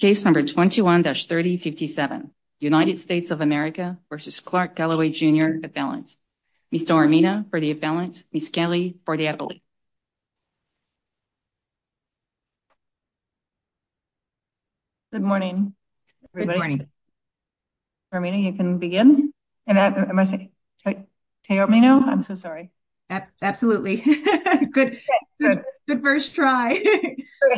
Case number 21-3057, United States of America v. Clark Calloway, Jr. Appellant. Ms. Dormina for the appellant, Ms. Kelly for the appellate. Good morning, everybody. Dormina, you can begin. Can you help me now? I'm so sorry. Absolutely. Good first try.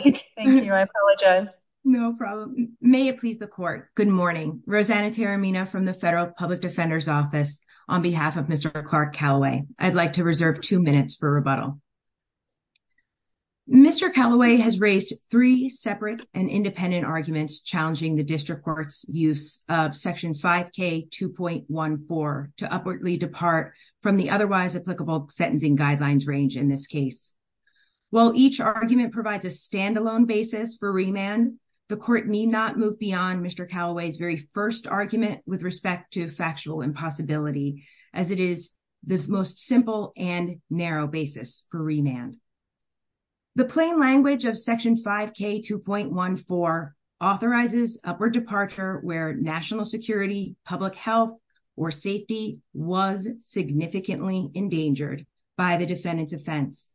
Thank you. I apologize. No problem. May it please the court. Good morning. Rosanna Terrimina from the Federal Public Defender's Office on behalf of Mr. Clark Calloway. I'd like to reserve two minutes for rebuttal. Mr. Calloway has raised three separate and independent arguments challenging the district court's use of Section 5K2.14 to upwardly depart from the otherwise applicable sentencing guidelines range in this case. While each argument provides a standalone basis for remand, the court need not move beyond Mr. Calloway's very first argument with respect to factual impossibility, as it is the most simple and narrow basis for remand. The plain language of Section 5K2.14 authorizes upward departure where national security, public health, or safety was significantly endangered by the defendant's offense.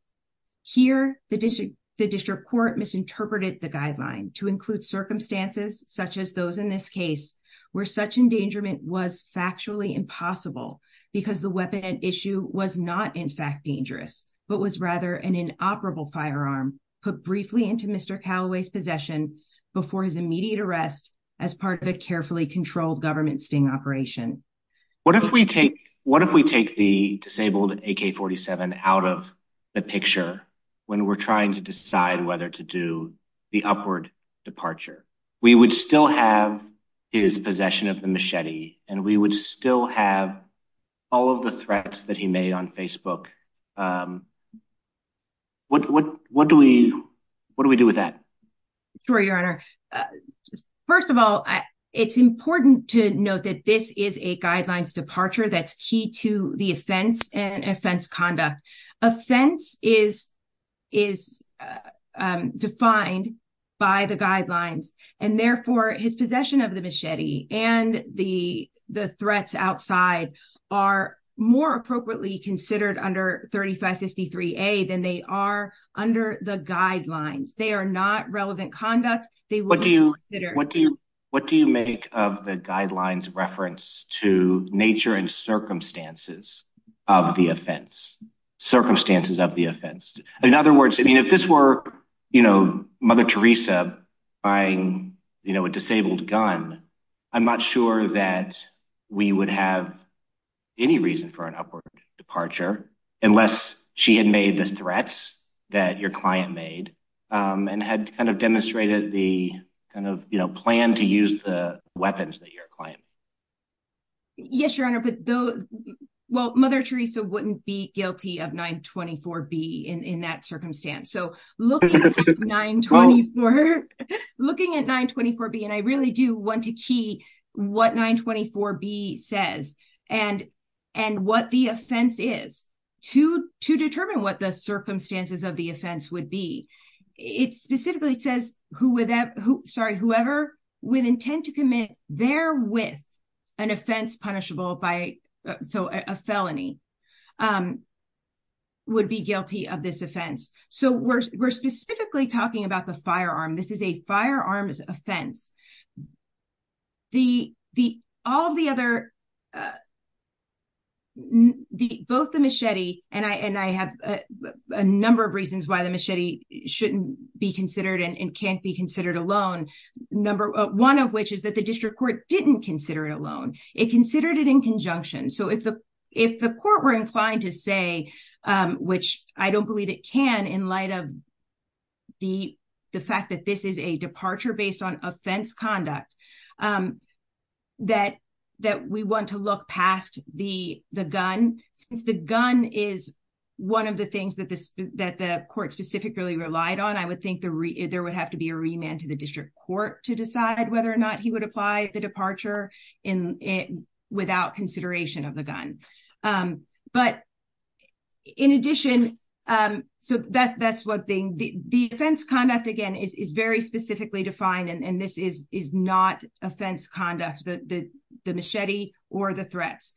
Here, the district court misinterpreted the guideline to include circumstances such as those in this case where such endangerment was factually impossible because the weapon at issue was not in fact dangerous, but was rather an inoperable firearm put briefly into Mr. Calloway's possession before his immediate arrest as part of a carefully controlled government sting operation. What if we take the disabled AK-47 out of the picture when we're trying to decide whether to do the upward departure? We would still have his possession of the machete and we would still have all of the threats that he made on Facebook. What do we do with that? Sure, Your Honor. First of all, it's important to note that this is a guidelines departure that's key to the offense and offense conduct. Offense is defined by the guidelines and therefore his possession of the machete and the threats outside are more appropriately considered under 3553A than they are under the guidelines. They are not relevant conduct. What do you make of the guidelines reference to nature and circumstances of the offense? Circumstances of the offense. In other words, I mean, if this were, you know, Mother Teresa buying, you know, a disabled gun, I'm not sure that we would have any reason for an upward departure unless she had made the threats that your client made and had kind of demonstrated the kind of, you know, plan to use the weapons that your client. Yes, Your Honor. But though, well, Mother Teresa wouldn't be guilty of 924B in that circumstance. So looking at 924B and I really do want to key what 924B says and what the offense is to determine what the circumstances of the offense would be. It specifically says whoever with intent to commit therewith an offense punishable by, so a felony, would be guilty of this offense. So we're specifically talking about the firearm. This is a firearms offense. All the other, both the machete and I have a number of reasons why the machete shouldn't be considered alone. It considered it in conjunction. So if the court were inclined to say, which I don't believe it can in light of the fact that this is a departure based on offense conduct, that we want to look past the gun, since the gun is one of the things that the court specifically relied on, I would think there would have to be a remand to the district court to decide whether or not he would apply the departure without consideration of the gun. But in addition, so that's one thing. The offense conduct, again, is very specifically defined and this is not offense conduct, the machete or the threats.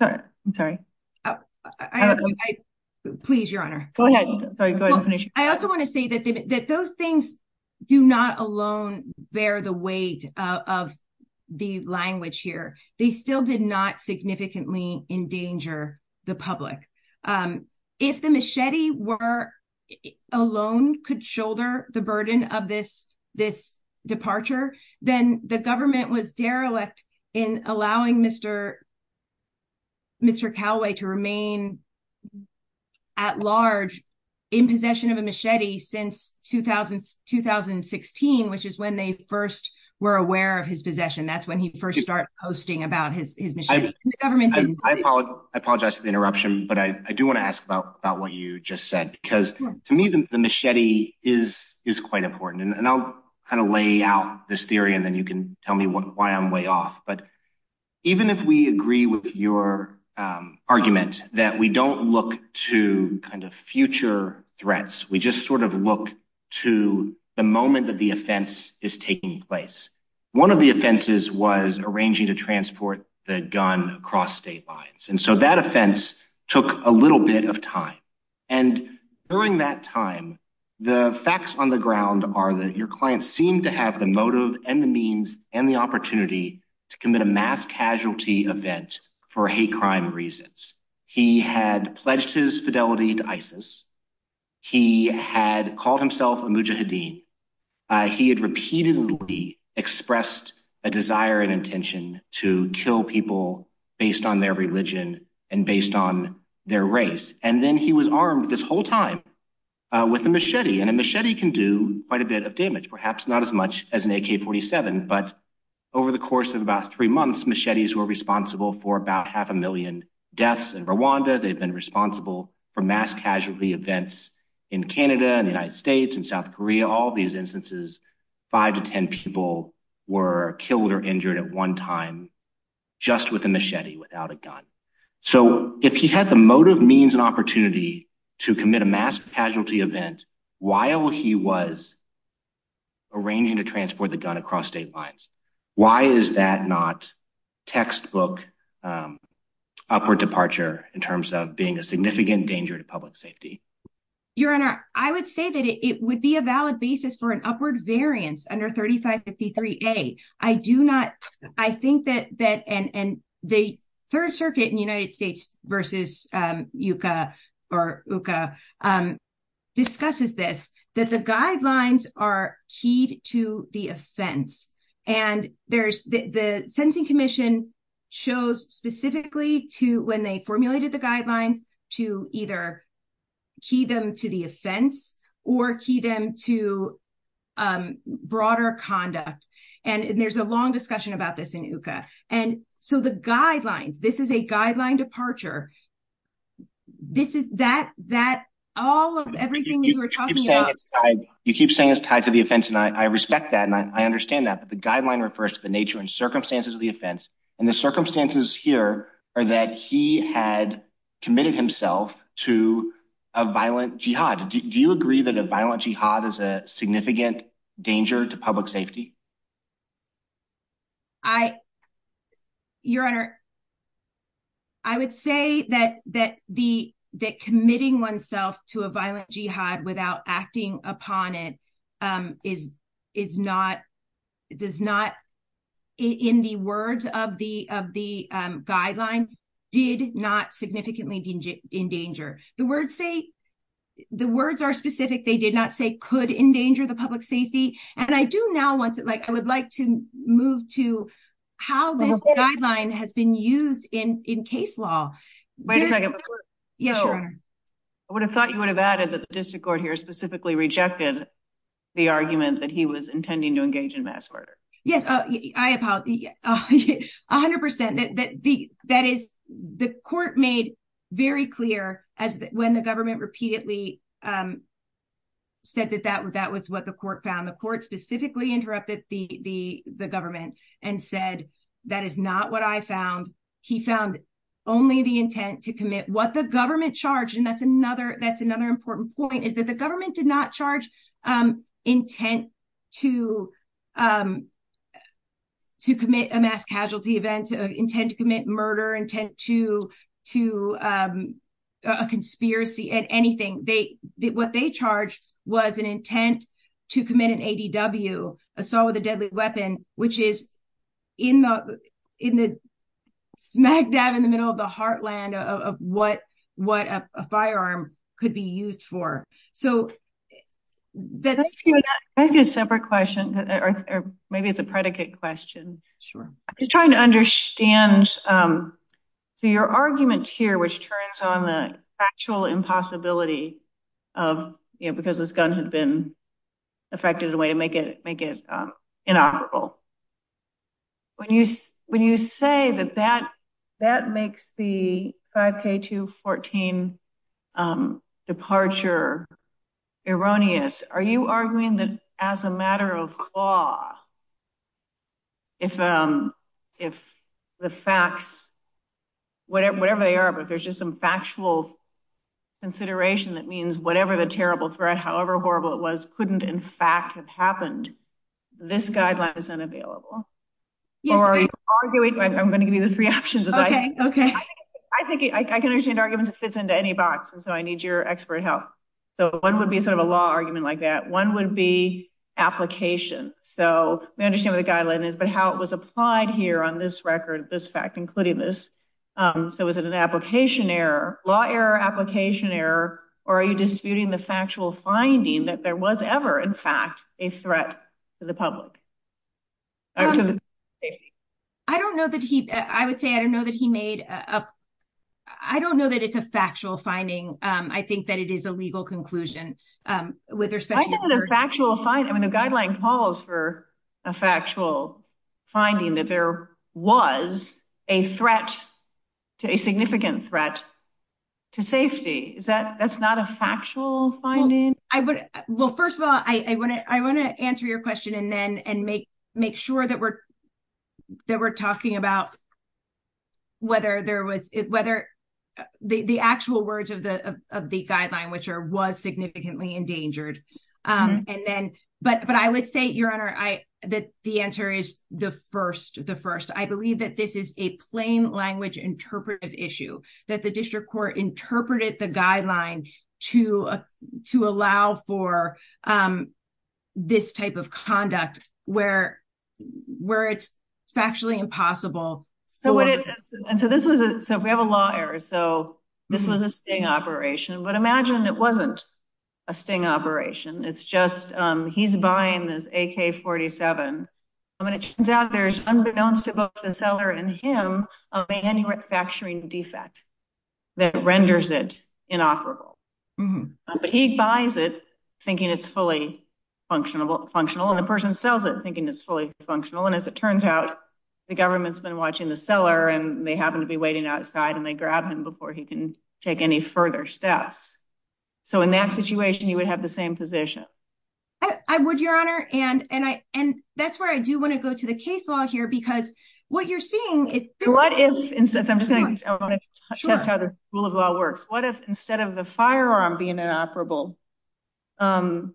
I'm sorry. I don't know. Please, Your Honor. Go ahead. I also want to say that those things do not alone bear the weight of the language here. They still did not significantly endanger the public. If the machete alone could shoulder the burden of this departure, then the government was derelict in allowing Mr. Calaway to remain at large in possession of a machete since 2016, which is when they first were aware of his possession. That's when he first started posting about his machete. I apologize for the interruption, but I do want to ask about what you just said, because to me, the machete is quite important. And I'll kind of lay out this theory and then you can tell me why I'm way off. But even if we agree with your argument that we don't look to kind of future threats, we just sort of look to the moment that the offense is taking place. One of the offenses was arranging to transport the gun across state lines. And so that offense took a little bit of time. And during that time, the facts on the ground are that your clients seem to have the motive and the means and the opportunity to commit a mass casualty event for hate crime reasons. He had pledged his fidelity to ISIS. He had called himself a mujahideen. He had repeatedly expressed a desire and intention to kill people based on their religion and based on their race. And then he was armed this whole time with a machete. And a machete can do quite a bit of damage, perhaps not as much as an AK-47. But over the course of about three months, machetes were responsible for about half a million deaths in Rwanda. They've been responsible for mass casualty events in Canada, in the United States, in South Korea. All these instances, five to ten people were killed or injured at one time just with a machete, without a gun. So if he had the motive, means, and opportunity to commit a mass casualty event while he was arranging to transport the gun across state lines, why is that not textbook upward departure in terms of being a significant danger to public safety? Your Honor, I would say that it would be a valid basis for an upward variance under 3553A. I do not, I think that, and the Third Circuit in the United States versus UCA or UCA discusses this, that the guidelines are keyed to the offense. And there's, the Sentencing Commission chose specifically to, when they formulated the guidelines, to either key them to the offense or key them to broader conduct. And there's a long discussion about this in UCA. And so the guidelines, this is a guideline departure. This is that, that all of everything that you were talking about. You keep saying it's tied to the offense, and I respect that, and I understand that. But the guideline refers to the nature and circumstances of the offense. And the circumstances here are that he had committed himself to a violent jihad. Do you agree that a violent jihad is a significant danger to public safety? I, Your Honor, I would say that, that the, that committing oneself to a violent jihad without acting upon it is, is not, does not, in the words of the, of the guideline, did not significantly endanger. The words say, the words are specific. They did not say could endanger the public safety. And I do now want to, like, I would like to move to how this guideline has been used in, in case law. Wait a second. Yes, Your Honor. I would have thought you would have added that the district court here specifically rejected the argument that he was intending to engage in mass murder. Yes, I apologize. A hundred percent that, that the, that is, the court made very clear as when the government repeatedly said that that, that was what the court found. The court specifically interrupted the, the, the government and said, that is not what I found. He found only the intent to commit what the government charged. And that's another, that's another important point, is that the government did not charge intent to, to commit a mass casualty event, intent to commit murder, intent to, to a conspiracy at anything. They, what they charged was an intent to commit an ADW, assault with a deadly weapon, which is in the, in the backdab in the middle of the heartland of what, what a firearm could be used for. So that's... Can I ask you a separate question? Or maybe it's a predicate question. Sure. I'm just trying to understand, so your argument here, which turns on the factual impossibility of, you know, because this gun had been affected in a way to make it, make it inoperable. When you, when you say that, that, that makes the 5K214 departure erroneous, are you arguing that as a matter of law, if, if the facts, whatever, whatever they are, but there's just some factual consideration that means whatever the terrible threat, however horrible it was, couldn't in fact have happened, this guideline is unavailable? Yes. Or are you arguing, I'm going to give you the three options. Okay. Okay. I think I can understand arguments that fits into any box. And so I need your expert help. So one would be sort of a law argument like that. One would be application. So we understand what the guideline is, but how it was applied here on this record, this fact, including this. So was it an application error, law error, application error, or are you disputing the factual finding that there was ever, in fact, a threat to the public? I don't know that he, I would say, I don't know that he made a, I don't know that it's a factual finding. I think that it is a legal conclusion. With respect to the factual, I mean, the guideline calls for a factual finding that there was a threat to a significant threat to safety. Is that, that's not a factual finding? I would, well, first of all, I want to, I want to answer your question and then, and make, make sure that we're, that we're talking about whether there was, whether the, the actual words of the, of the guideline, which are, was significantly endangered. And then, but, but I would say, your honor, I, that the answer is the first, the first, I believe that this is a plain language interpretive issue that the district court interpreted the guideline to, to allow for this type of conduct where, where it's factually impossible. And so this was, so if we have a law error, so this was a sting operation, but imagine it wasn't a sting operation. It's just he's buying this AK-47. And when it turns out there's unbeknownst to both the seller and him, a manufacturing defect that renders it inoperable. But he buys it thinking it's fully functional and the person sells it thinking it's fully functional. And as it turns out, the government's been watching the seller and they happen to be waiting outside and they grab him before he can take any further steps. So in that situation, you would have the same position. I would, your honor. And, and I, and that's where I do want to go to the case law here, because what you're seeing, what if instead of the firearm being inoperable, the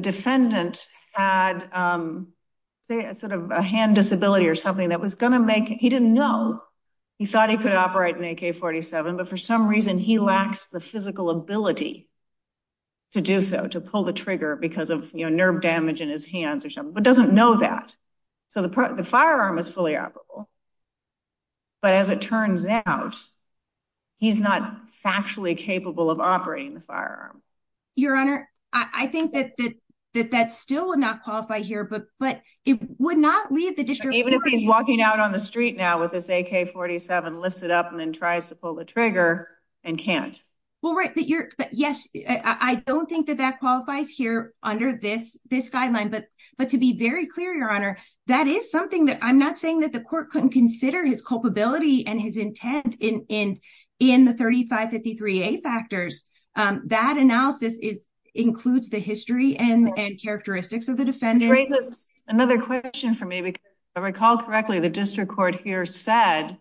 defendant had sort of a hand disability or something that was going to make, he didn't know he thought he could operate an AK-47, but for some reason he lacks the physical ability to do so, to pull the trigger because of nerve damage in his hands or something, but doesn't know that. So the firearm is fully operable, but as it turns out, he's not factually capable of operating the firearm. Your honor. I think that, that, that, that still would not qualify here, but it would not leave the district. Even if he's walking out on the street now with this AK-47, lifts it up and then tries to pull the trigger and can't. Well, right. But you're, but yes, I don't think that that qualifies here under this, this guideline, but, but to be very clear, your honor, that is something that I'm not saying that the court couldn't consider his culpability and his intent in, in, in the 3553A factors. That analysis is, includes the history and characteristics of the defendant. Another question for me, because if I recall correctly, the district court here said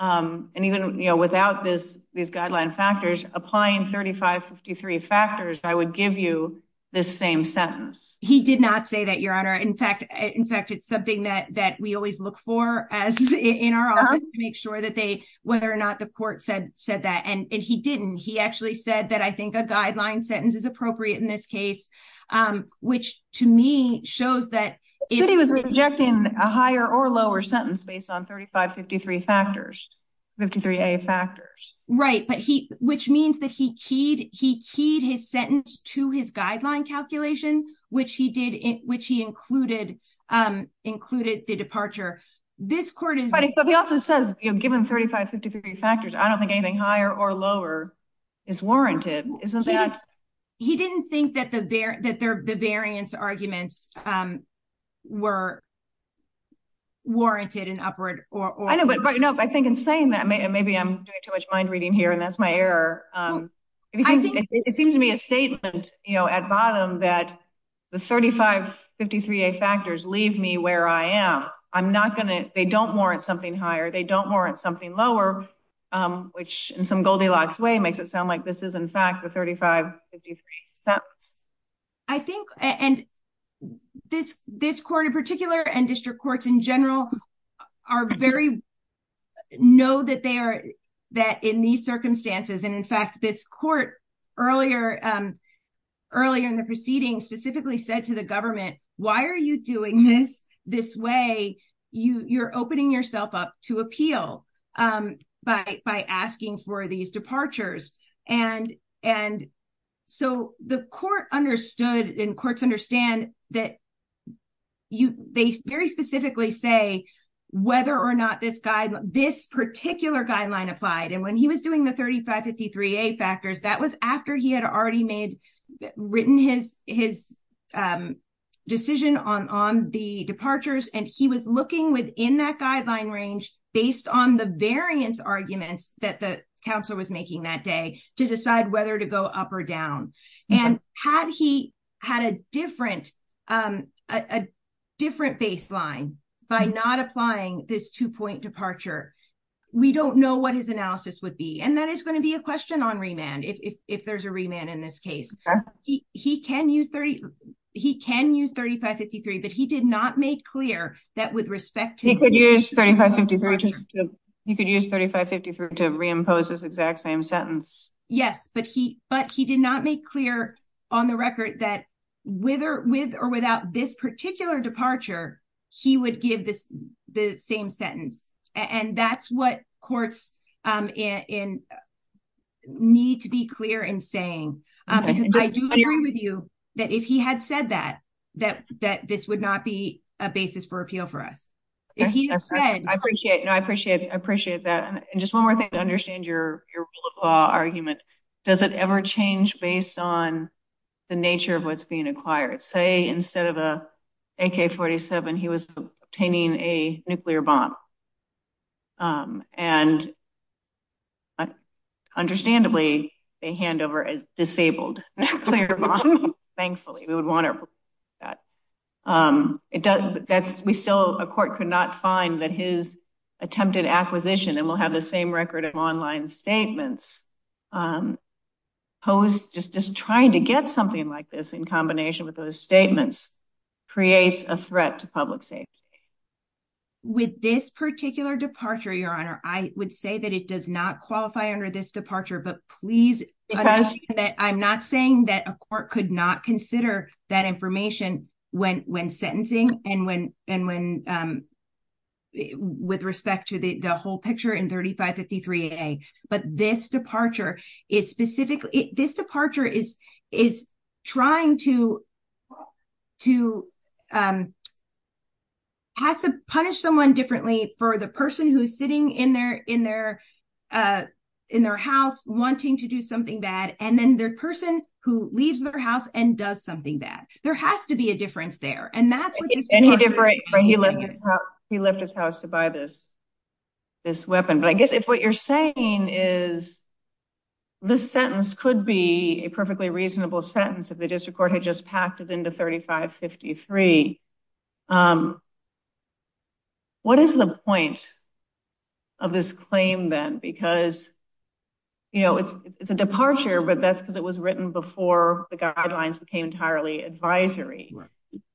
and even, you know, without this, these guideline factors applying 3553 factors, I would give you this same sentence. He did not say that your honor. In fact, in fact, it's something that, that we always look for as in our office to make sure that they, whether or not the court said, said that. And he didn't, he actually said that I think a which to me shows that. He was rejecting a higher or lower sentence based on 3553 factors, 53A factors. Right. But he, which means that he keyed, he keyed his sentence to his guideline calculation, which he did, which he included included the departure. This court is. But he also says, you know, given 3553 factors, I don't think anything higher or lower is warranted. Isn't that. He didn't think that the, that there, the variance arguments were warranted in upward or. I know, but I think in saying that maybe I'm doing too much mind reading here and that's my error. It seems to me a statement, you know, at bottom that the 3553A factors leave me where I am. I'm not going to, they don't warrant something higher. They don't make it sound like this is in fact the 3553 sentence. I think, and this, this court in particular and district courts in general are very know that they are that in these circumstances. And in fact, this court earlier earlier in the proceedings specifically said to the government, why are you doing this this way? You you're opening yourself up to appeal by asking for these departures. And, and so the court understood in courts understand that. They very specifically say whether or not this guy, this particular guideline applied. And when he was doing the 3553A factors, that was after he had already made written his, his decision on, on the departures. And he was looking within that guideline range based on the variance arguments that the counselor was making that day to decide whether to go up or down. And had he had a different a different baseline by not applying this two point departure. We don't know what his analysis would be. And that is going to be a question on remand. If, if, if there's a remand in this case, he can use 30, he can use 3553, but he did not make clear that with respect to He could use 3553 to reimpose this exact same sentence. Yes, but he, but he did not make clear on the record that with or without this particular departure, he would give this the same sentence. And that's what courts in need to be clear in saying, because I do agree with you that if he had said that, that, that this would not be a basis for appeal for us. If he had said, I appreciate, I appreciate, I appreciate that. And just one more thing to understand your, your rule of law argument, does it ever change based on the nature of what's he was obtaining a nuclear bomb. And understandably, a handover as disabled. Thankfully, we would want to do that. That's we still a court could not find that his attempted acquisition and we'll have the same record of online statements. Pose just just trying to get something like this in combination with those statements, creates a threat to public safety. With this particular departure, Your Honor, I would say that it does not qualify under this departure. But please, I'm not saying that a court could not consider that information when when sentencing and when and when with respect to the whole picture in 3553 a, but this departure is specifically, this departure is, is trying to, to have to punish someone differently for the person who's sitting in their in their, in their house wanting to do something bad. And then the person who leaves their house and does something that there has to be a difference there. And that's what he did, right? He left his house, he left his house to buy this, this weapon. But I guess what you're saying is, this sentence could be a perfectly reasonable sentence, if the district court had just packed it into 3553. What is the point of this claim, then? Because, you know, it's it's a departure, but that's because it was written before the guidelines became entirely advisory.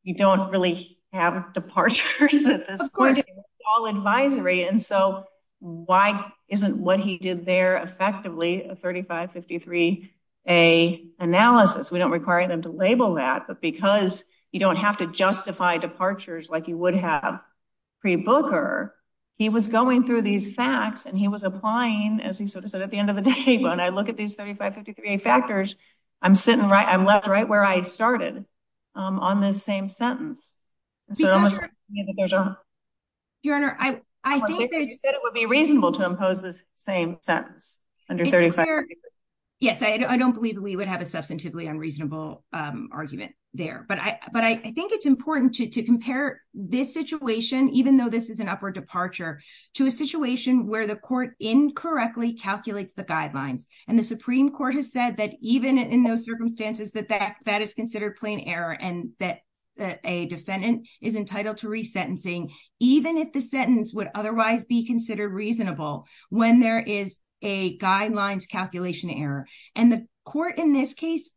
You don't really have departures at this point, all advisory. And so why isn't what he did there effectively a 3553 a analysis, we don't require them to label that. But because you don't have to justify departures, like you would have pre Booker, he was going through these facts. And he was applying, as he sort of said, at the end of the day, when I look at these 3553 a factors, I'm sitting right, I'm left right where I started on this same sentence. Your Honor, I, I think it would be reasonable to impose this same sentence under 35. Yes, I don't believe we would have a substantively unreasonable argument there. But I but I think it's important to compare this situation, even though this is an upward departure, to a situation where the court incorrectly calculates the guidelines. And the Supreme Court has said that even in those circumstances that that that is considered plain error, and that a defendant is entitled to resentencing, even if the sentence would otherwise be considered reasonable, when there is a guidelines calculation error. And the court in this case,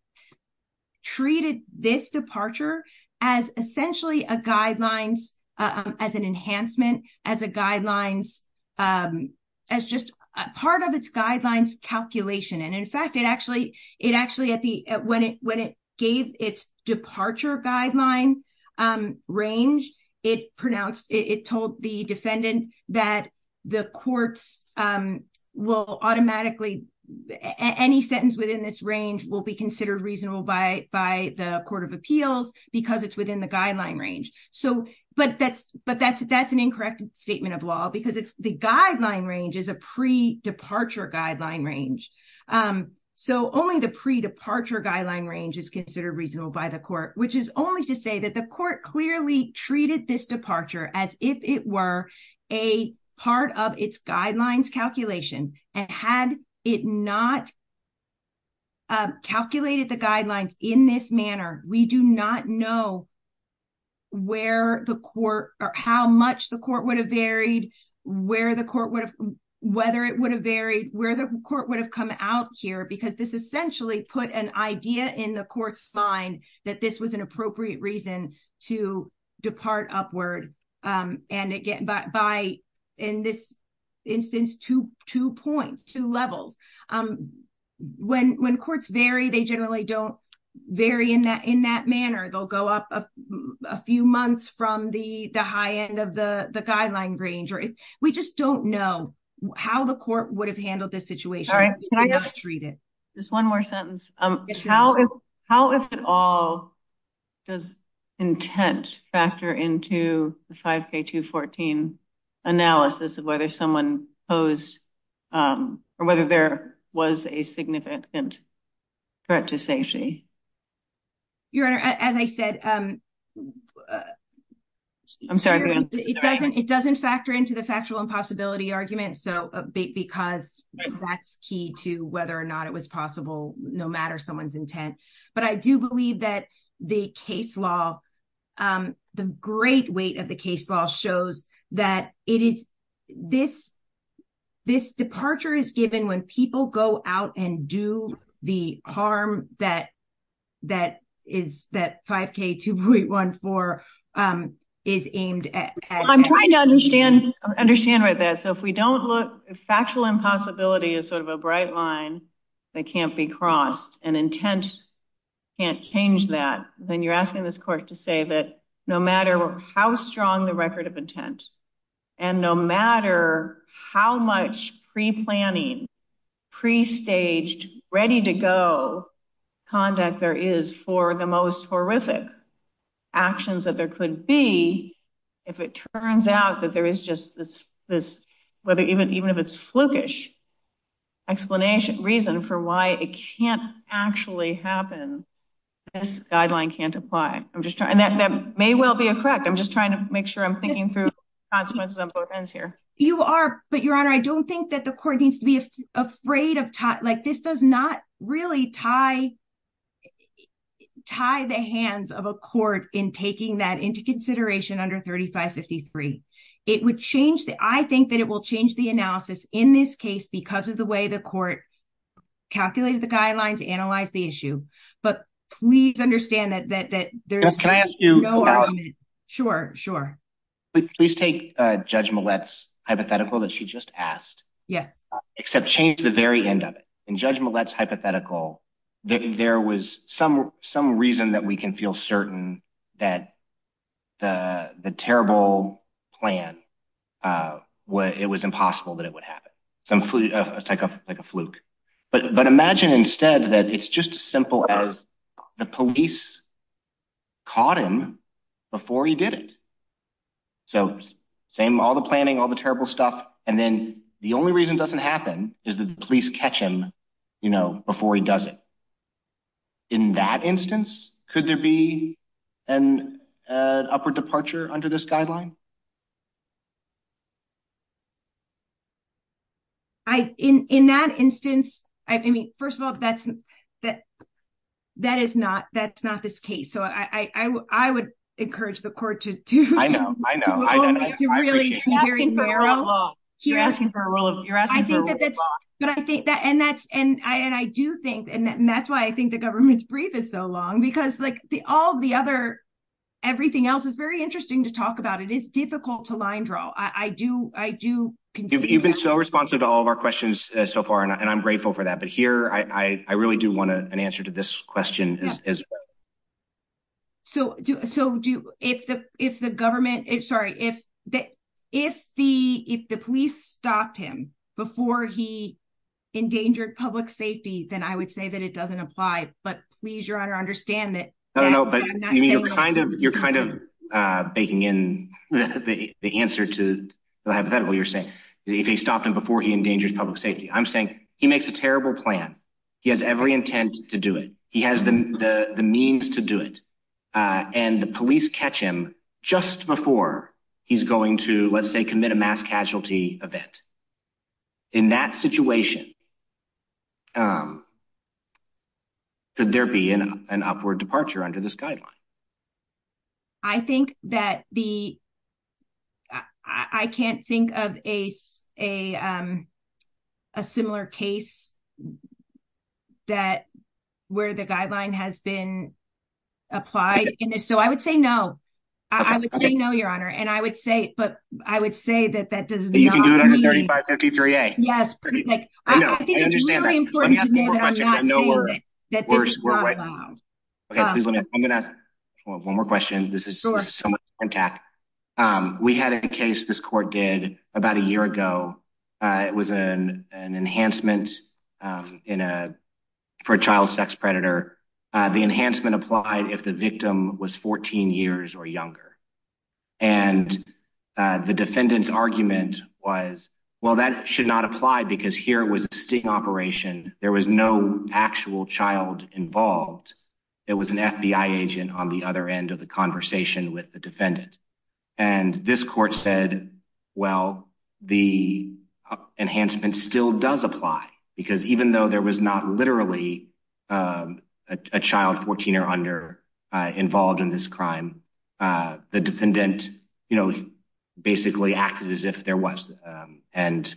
treated this departure as essentially a guidelines as an enhancement as a guidelines as just a part of its guidelines calculation. And in fact, it actually, it actually at the when it when it gave its departure guideline range, it pronounced it told the defendant that the courts will automatically any sentence within this range will be considered reasonable by by the Court of Appeals, because it's within the guideline range. So but that's, but that's, that's an incorrect statement of law, because it's the guideline range is a pre departure guideline range. So only the pre departure guideline range is considered reasonable by the court, which is only to say that the court clearly treated this departure as if it were a part of its guidelines calculation. And had it not calculated the guidelines in this manner, we do not know where the court or how much the court would have varied, where the court would have, whether it would have varied where the court would have come out here, because this essentially put an idea in the courts find that this was an appropriate reason to depart upward. And again, but by in this instance, to two points two levels. When when courts vary, they generally don't vary in that in that manner, they'll go up a few months from the the high end of the the guideline range, or if we just don't know how the court would have handled this situation. All right. Can I just read it? Just one more sentence. How is how is it all does intent factor into the 5k 214 analysis of whether someone posed or whether there was a significant threat to safety? Your Honor, as I said, I'm sorry, it doesn't it doesn't factor into the factual impossibility argument. So because that's key to whether or not it was possible, no matter someone's intent. But I do believe that the case law, the great weight of case law shows that it is this. This departure is given when people go out and do the harm that that is that 5k 214 is aimed at. I'm trying to understand, understand that. So if we don't look factual impossibility is sort of a bright line that can't be crossed and intent can't change that, then you're asking this court to say that no matter how strong the record of intent, and no matter how much pre planning, pre staged, ready to go conduct there is for the most horrific actions that there could be, if it turns out that there is just this, this, whether even even if it's flukish explanation reason for why it can't actually happen, this guideline can't apply. I'm just trying that that may well be a correct. I'm just trying to make sure I'm thinking through consequences on both ends here. You are but Your Honor, I don't think that the court needs to be afraid of taught like this does not really tie tie the hands of a court in taking that into consideration under 3553. It would change that I think that it will change the analysis in this case because of the way the court calculated the guidelines analyze the issue. But please understand that that there's can I ask you? Sure, sure. Please take judgment. Let's hypothetical that she just asked. Yes. Except change the very end of it. And judgment. Let's hypothetical that there was some some reason that we can feel certain that the the terrible plan what it was impossible that it would happen. So I'm like a fluke. But but imagine instead that it's just as simple as the police caught him before he did it. So same all the planning, all the terrible stuff. And then the only reason doesn't happen is that the police catch him, you know, before he does it. In that instance, could there be an upward departure under this guideline? I in that instance, I mean, first of all, that's that. That is not that's not this case. So I would encourage the court to I know, I know. You're asking for a roll of you're asking but I think that and that's and I and I do think and that's why I think the government's brief is so long because like the all the other everything else is very interesting to talk about. It is difficult to line draw. I do. I do. You've been so responsive to all of our questions so far. And I'm grateful for that. But here I really do want to an answer to this question. So do so do if the if the government is sorry, if that if the if the police stopped him before he endangered public safety, then I would say that it doesn't apply. But please, Your Honor, understand that. I don't know. But you're kind of you're kind of baking in the answer to the hypothetical. You're saying if he stopped him before he endangers public safety, I'm saying he makes a terrible plan. He has every intent to do it. He has the means to do it. And the police catch him just before he's going to, let's say, commit a mass casualty event. In that situation, could there be an upward departure under this guideline? I think that the I can't think of a, a, a similar case that where the guideline has been applied in this. So I would say no, I would say no, Your Honor. And I would say but I would say that that does not under 3553. Yes. I think it's really important to know that I'm not saying that this is not allowed. Okay, please let me I'm gonna one more question. This is so much contact. We had a case this court did about a year ago. It was an enhancement in a for a child sex predator. The enhancement applied if the victim was 14 years or younger. And the defendant's argument was, well, that should not apply because here was a sting operation, there was no actual child involved. It was an FBI agent on the other end of the conversation with the defendant. And this court said, well, the enhancement still does apply. Because even though there was not literally a child 14 or under involved in this crime, the defendant, you know, basically acted as if there was. And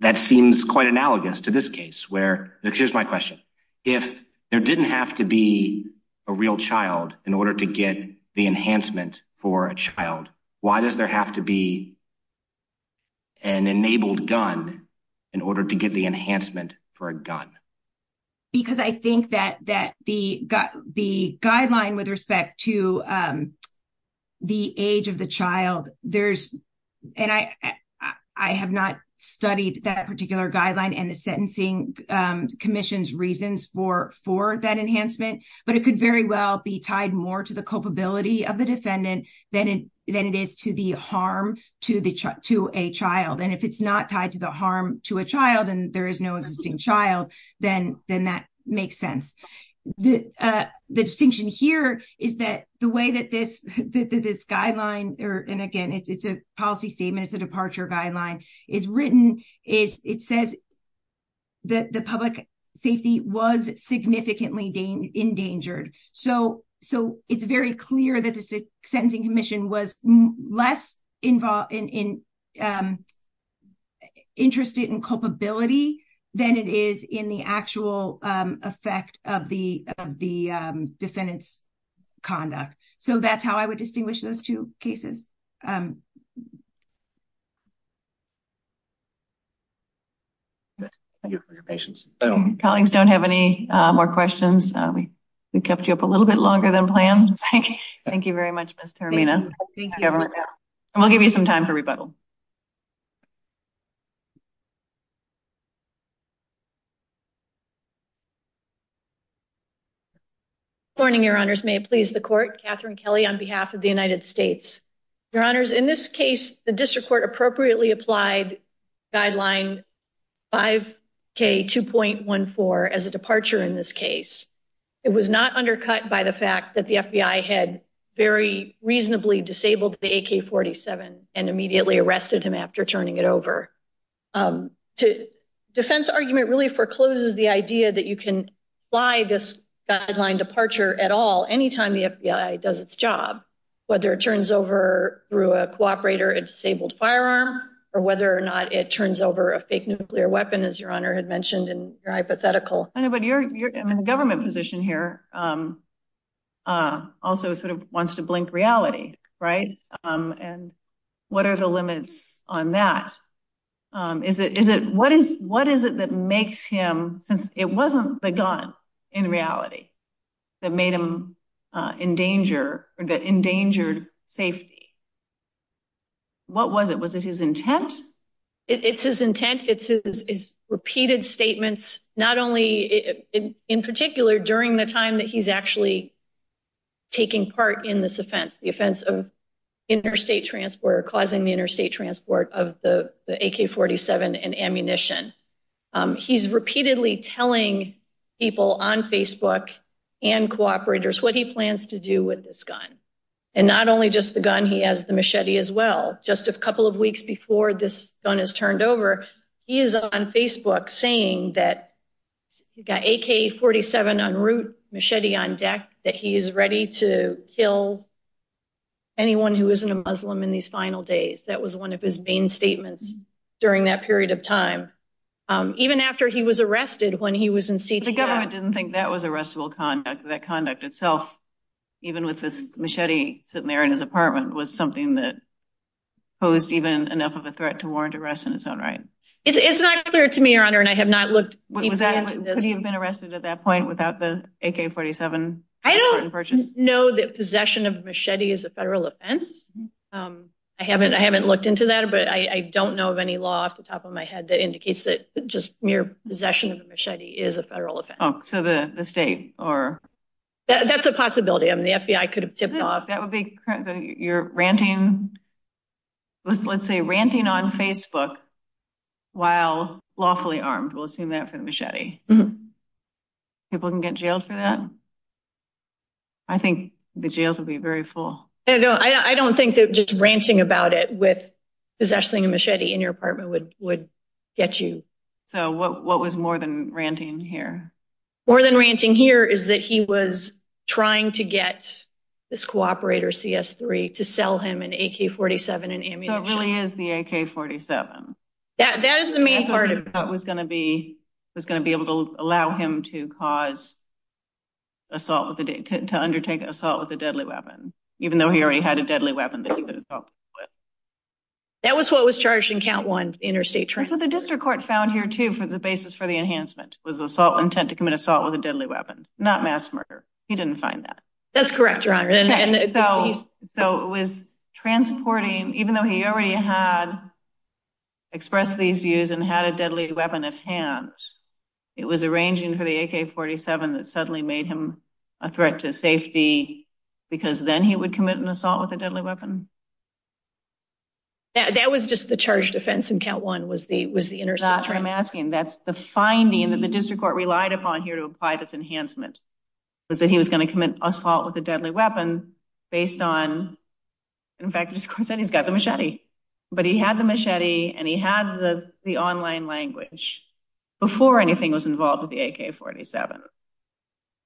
that seems quite analogous to this case where, here's my question. If there didn't have to be a real child in order to get the enhancement for a child, why does there have to be an enabled gun in order to get the enhancement for a gun? Because I think that that the the guideline with respect to the age of the child, there's, and I have not studied that particular guideline and the Sentencing Commission's reasons for for that enhancement, but it could very well be tied more to the culpability of the defendant than it than it is to the harm to the to a child. And if it's not tied to the harm to a child, and there is no existing child, then then that makes sense. The distinction here is that the way that this guideline, and again, it's a policy statement, it's a departure guideline, is written, it says that the public safety was significantly endangered. So it's very clear that the Sentencing Commission was less involved in interested in culpability than it is in the actual effect of the defendant's conduct. So that's how I would distinguish those two cases. Thank you for your patience. Colleagues, don't have any more questions. We kept you up a little bit longer than planned. Thank you. Thank you very much, Ms. Termina. Thank you. And we'll give you some time for rebuttal. Good morning, Your Honors. May it please the Court? Catherine Kelly on behalf of the United States. Your Honors, in this case, the District Court appropriately applied Guideline 5K2.14 as a departure in this case. It was not undercut by the fact that the FBI had very reasonably disabled the K-47 and immediately arrested him after turning it over. The defense argument really forecloses the idea that you can apply this guideline departure at all, anytime the FBI does its job, whether it turns over, through a cooperator, a disabled firearm, or whether or not it turns over a fake nuclear weapon, as Your Honor had mentioned in your hypothetical. But the government position here also sort of wants to blink reality, right? And what are the limits on that? What is it that makes him, since it wasn't the gun in reality, that made him in danger, or that endangered safety? What was it? Was it his intent? It's his intent. It's his repeated statements, not only, in particular, during the time that he's actually taking part in this offense, the offense of interstate transport or causing the interstate transport of the AK-47 and ammunition. He's repeatedly telling people on Facebook and cooperators what he plans to do with this gun. And not only just the gun, he has the machete as well. Just a couple of weeks before this gun is turned over, he is on Facebook saying that he got AK-47 en route, machete on deck, that he is ready to kill anyone who isn't a Muslim in these final days. That was one of his main statements during that period of time, even after he was arrested when he was in CTF. The government didn't think that was arrestable conduct. That conduct itself, even with this machete sitting there in his apartment, was something that posed even enough of a threat to warrant arrest in its own right. It's not clear to me, Your Honor, and I have not looked deeply into this. Could he have been arrested at that point without the AK-47? I don't know that possession of machete is a federal offense. I haven't looked into that, but I don't know of any law off the top of my head that indicates that just mere possession of a machete is a federal offense. Oh, so the state, or? That's a possibility. I mean, the FBI could have tipped off. You're ranting, let's say, ranting on Facebook while lawfully armed. We'll assume that for the machete. People can get jailed for that? I think the jails would be very full. I don't think that just ranting about it with possessing a machete in your apartment would get you. So what was more than ranting here? More than ranting here is that he was trying to get this cooperator, CS-3, to sell him an AK-47 and ammunition. So it really is the AK-47. That is the main part of it. That's what I thought was going to be able to allow him to cause assault, to undertake assault with a deadly weapon, even though he already had a deadly weapon that he could assault people with. That was what was charged in count one, interstate trafficking. The district court found here, too, the basis for the enhancement was the assault intent to commit assault with a deadly weapon, not mass murder. He didn't find that. That's correct, Your Honor. So it was transporting, even though he already had expressed these views and had a deadly weapon at hand, it was arranging for the AK-47 that suddenly made him a threat to safety because then he would commit an assault with a deadly weapon? That was just the charge defense in count one, was the interstate trafficking? That's what I'm asking. That's the finding that the district court relied upon here to apply this enhancement, was that he was going to commit assault with a deadly weapon based on, in fact, the district court said he's got the machete. But he had the machete and he had the online language before anything was involved with the AK-47.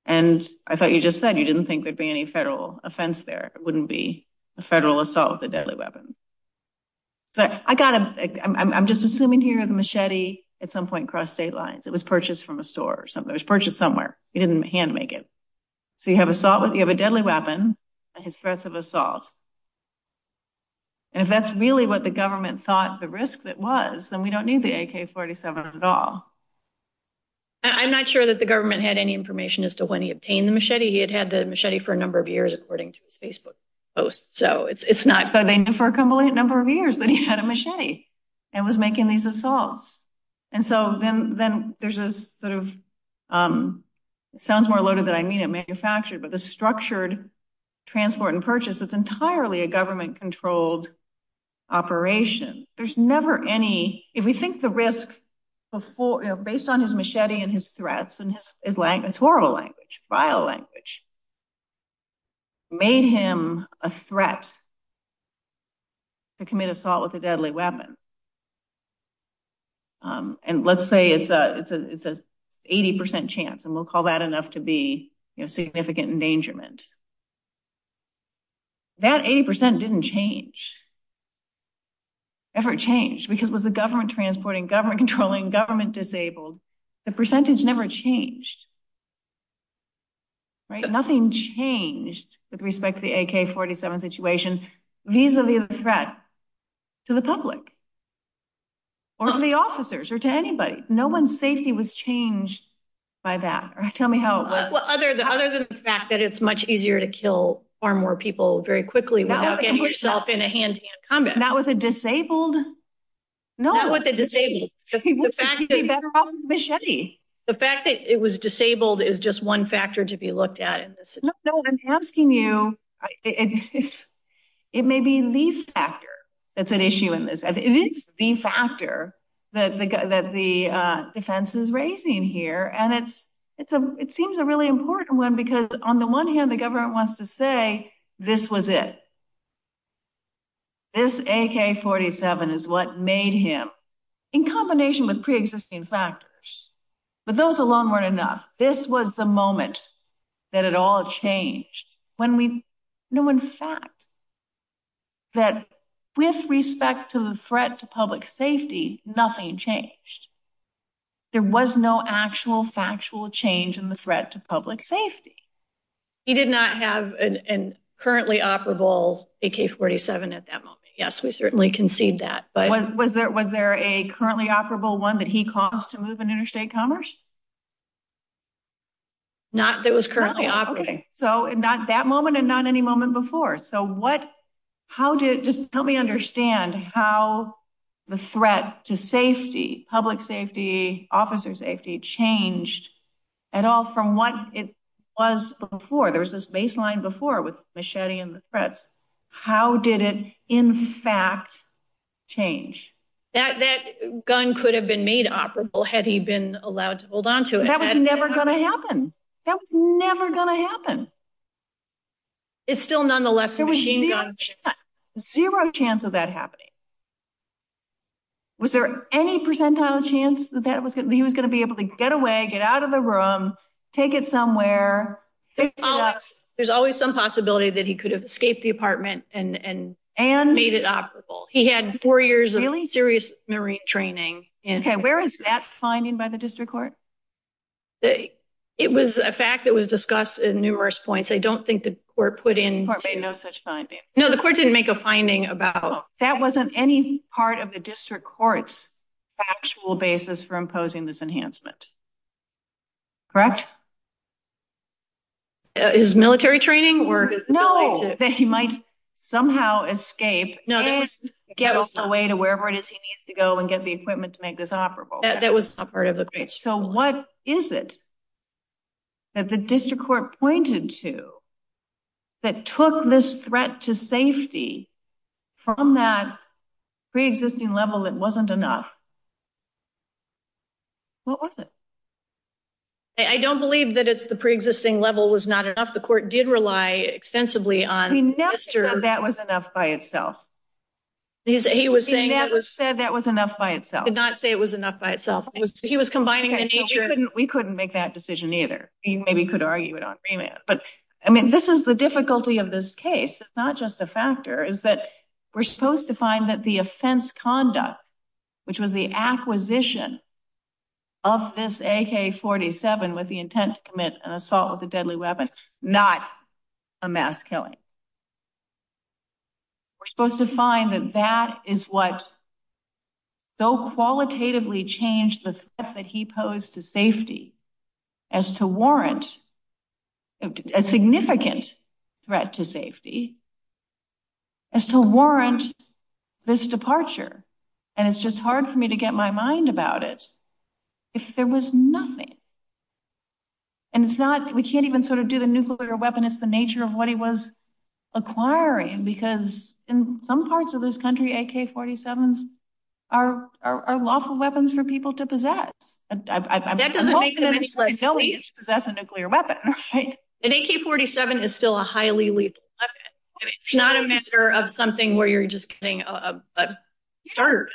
And I thought you just said you didn't think there'd be any federal offense there. It wouldn't be a federal assault with a deadly weapon. But I'm just assuming here the machete at some point crossed state lines. It was purchased from a store or something. It was purchased somewhere. He didn't hand make it. So you have a deadly weapon and his threats of assault. And if that's really what the government thought the risk that was, then we don't need the AK-47 at all. I'm not sure that the government had any information as to when he obtained the machete. He had had the machete for a number of years, according to his Facebook posts. So it's not that they knew for a number of years that he had a machete and was making these assaults. And so then there's this sort of, it sounds more loaded than I mean it manufactured, but the structured transport and purchase, it's entirely a government controlled operation. There's never any, if we think the risk based on his machete and his threats and his language, it's horrible language, vile language, made him a threat to commit assault with a deadly weapon. And let's say it's a 80% chance and we'll call that enough to be significant endangerment. That 80% didn't change. Ever changed because it was the government transporting, government controlling, government disabled, the percentage never changed, right? Nothing changed with respect to the AK-47 situation, vis-a-vis the threat to the public or to the officers or to anybody. No one's safety was changed by that. Tell me how it was. Well, other than the fact that it's much easier to kill far more people very quickly without getting yourself in a hand-to-hand combat. Not with a disabled, no. Better off with a machete. The fact that it was disabled is just one factor to be looked at in this. No, no, I'm asking you, it may be the factor that's an issue in this. It is the factor that the defense is raising here. And it seems a really important one because on the one hand, the government wants to say, this was it. This AK-47 is what made him, in combination with pre-existing factors, but those alone weren't enough. This was the moment that it all changed when we knew in fact that with respect to the threat to public safety, nothing changed. There was no actual factual change in the threat to public safety. He did not have a currently operable AK-47 at that moment. Yes, we certainly concede that. Was there a currently operable one that he caused to move in interstate commerce? Not that was currently operating. So not that moment and not any moment before. So just help me understand how the threat to safety, public safety, officer safety, changed at all from what it was before. There was this baseline before with machete and the threats. How did it in fact change? That gun could have been made operable had he been allowed to hold on to it. That was never going to happen. That was never going to happen. It's still nonetheless a machine gun. Zero chance of that happening. Was there any percentile chance that he was going to be able to get away, get out of the room, take it somewhere? There's always some possibility that he could have escaped the apartment and made it operable. He had four years of serious Marine training. Okay, where is that finding by the district court? It was a fact that was discussed in numerous points. I don't think the court put in... The court made no such finding. No, the court didn't make a finding about... That wasn't any part of the district court's actual basis for imposing this enhancement. Correct? His military training or... No, that he might somehow escape and get on the way to wherever it is he needs to go and get the equipment to make this operable. That was not part of the... So what is it that the district court pointed to that took this threat to safety from that pre-existing level that wasn't enough? What was it? I don't believe that it's the pre-existing level was not enough. The court did rely extensively on... He never said that was enough by itself. He was saying... He never said that was enough by itself. Did not say it was enough by itself. He was combining the nature... We couldn't make that decision either. He maybe could argue it on remand. But I mean, this is the difficulty of this case. It's not just a factor. Is that we're supposed to find that the offense conduct, which was the acquisition of this AK-47 with the intent to commit an assault with a deadly weapon, not a mass killing. We're supposed to find that that is what so qualitatively changed the threat that he posed to safety as to warrant a significant threat to safety, as to warrant this departure. And it's just hard for me to get my mind about it if there was nothing. And it's not... We can't even sort of do the nuclear weapon. It's the nature of what he was acquiring. Because in some parts of this country, AK-47s are lawful weapons for people to possess. That doesn't make them any less lethal. Possess a nuclear weapon, right? An AK-47 is still a highly lethal weapon. It's not a matter of something where you're just getting a starter.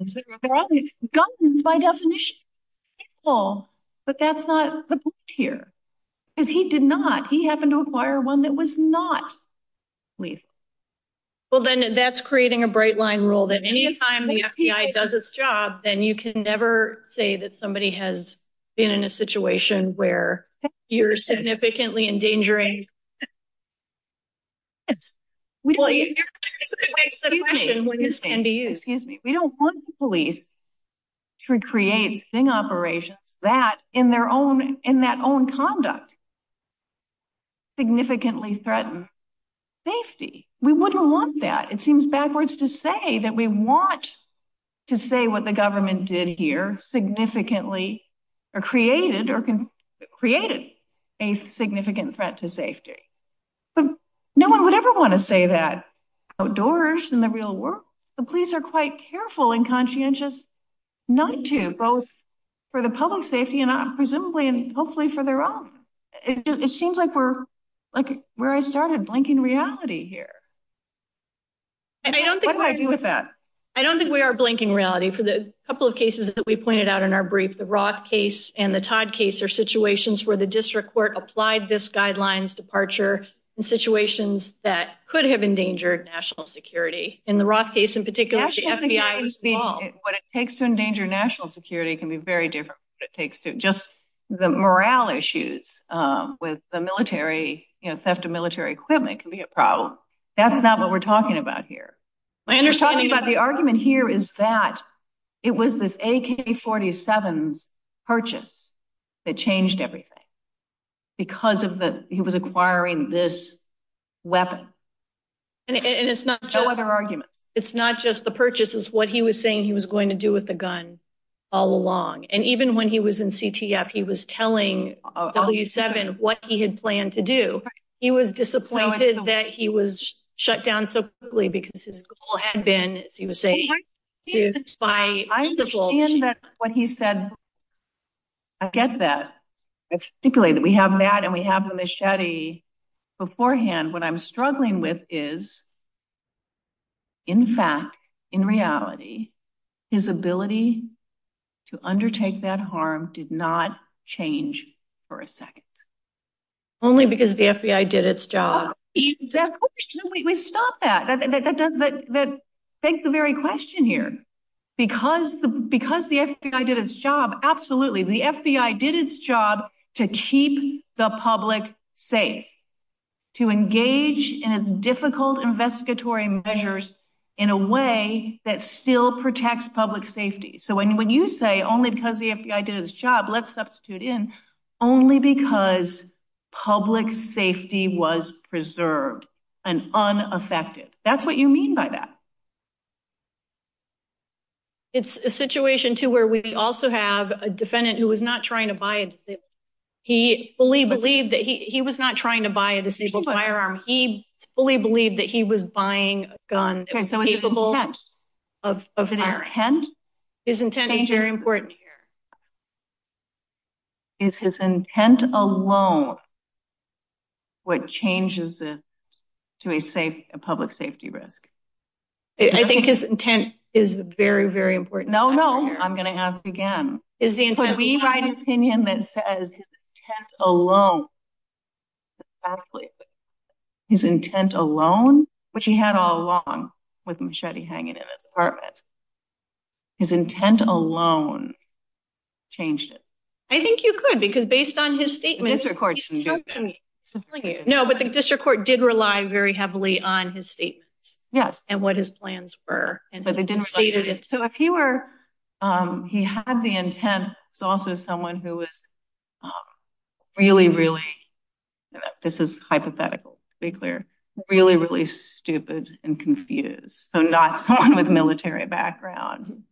Guns by definition are lethal. But that's not the point here. Because he did not. He happened to acquire one that was not lethal. Well, then that's creating a bright line rule that any time the FBI does its job, then you can never say that somebody has been in a situation where you're significantly endangering. We don't want the police to create sting operations that in their own, in that own conduct, significantly threaten safety. We wouldn't want that. It seems backwards to say that we want to say what the government did here significantly or created or created a significant threat to safety. But no one would ever want to say that outdoors in the real world. The police are quite careful and conscientious not to, for the public safety and presumably and hopefully for their own. It seems like we're like where I started blanking reality here. I don't think we are blanking reality. For the couple of cases that we pointed out in our brief, the Roth case and the Todd case are situations where the district court applied this guidelines departure in situations that could have endangered national security. In the Roth case in particular, the FBI was involved. What it takes to endanger national security can be very different. It takes to just the morale issues with the military, you know, theft of military equipment can be a problem. That's not what we're talking about here. My understanding about the argument here is that it was this AK-47s purchase that changed everything because of the, he was acquiring this weapon. And it's not just other arguments. It's not just the purchases. What he was saying he was going to do with the gun all along. And even when he was in CTF, he was telling W7 what he had planned to do. He was disappointed that he was shut down so quickly because his goal had been, as he was saying, to buy. I understand that what he said, I get that. It's stipulated. We have that and we have the machete beforehand. What I'm struggling with is, in fact, in reality, his ability to undertake that harm did not change for a second. Only because the FBI did its job. No, we stopped that. Thank the very question here. Because the FBI did its job, absolutely. The FBI did its job to keep the public safe. To engage in its difficult investigatory measures in a way that still protects public safety. So when you say only because the FBI did its job, let's substitute in, only because public safety was preserved and unaffected. That's what you mean by that. It's a situation, too, where we also have a defendant who was not trying to buy. He fully believed that he was not trying to buy a deceitful firearm. He fully believed that he was buying a gun that was capable of firing. His intent is very important here. Is his intent alone what changes this to a public safety risk? I think his intent is very, very important. No, no. I'm going to ask again. We write an opinion that says his intent alone. His intent alone, which he had all along with a machete hanging in his apartment. His intent alone changed it. I think you could because based on his statements. No, but the district court did rely very heavily on his statements. Yes. And what his plans were. So if he had the intent, it's also someone who was really, really, this is hypothetical to be clear, really, really stupid and confused. So not someone with military background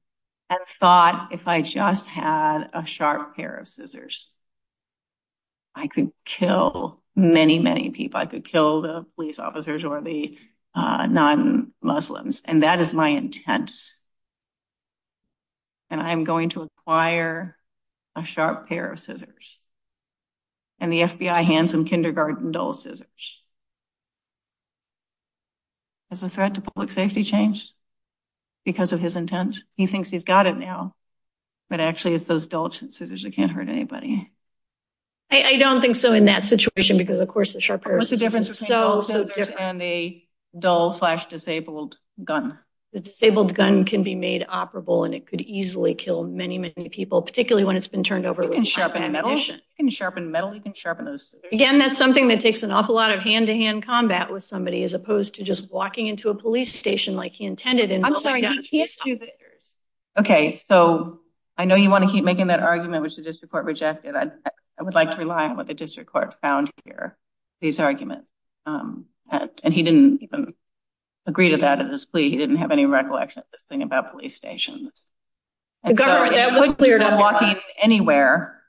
and thought if I just had a sharp pair of scissors, I could kill many, many people. I could kill the police officers or the non-Muslims. And that is my intent. And I'm going to acquire a sharp pair of scissors. And the FBI hands him kindergarten dull scissors. Is the threat to public safety changed because of his intent? He thinks he's got it now. But actually, it's those dull scissors that can't hurt anybody. I don't think so in that situation because, of course, the sharp pair of scissors is so, and the dull slash disabled gun. The disabled gun can be made operable and it could easily kill many, many people, particularly when it's been turned over. You can sharpen metal, you can sharpen those. Again, that's something that takes an awful lot of hand-to-hand combat with somebody as opposed to just walking into a police station like he intended. Okay, so I know you want to keep making that argument, which the district court rejected. I would like to rely on what the district court found here, these arguments. And he didn't even agree to that in his plea. He didn't have any recollection of this thing about police stations. The government, that was cleared up. Walking anywhere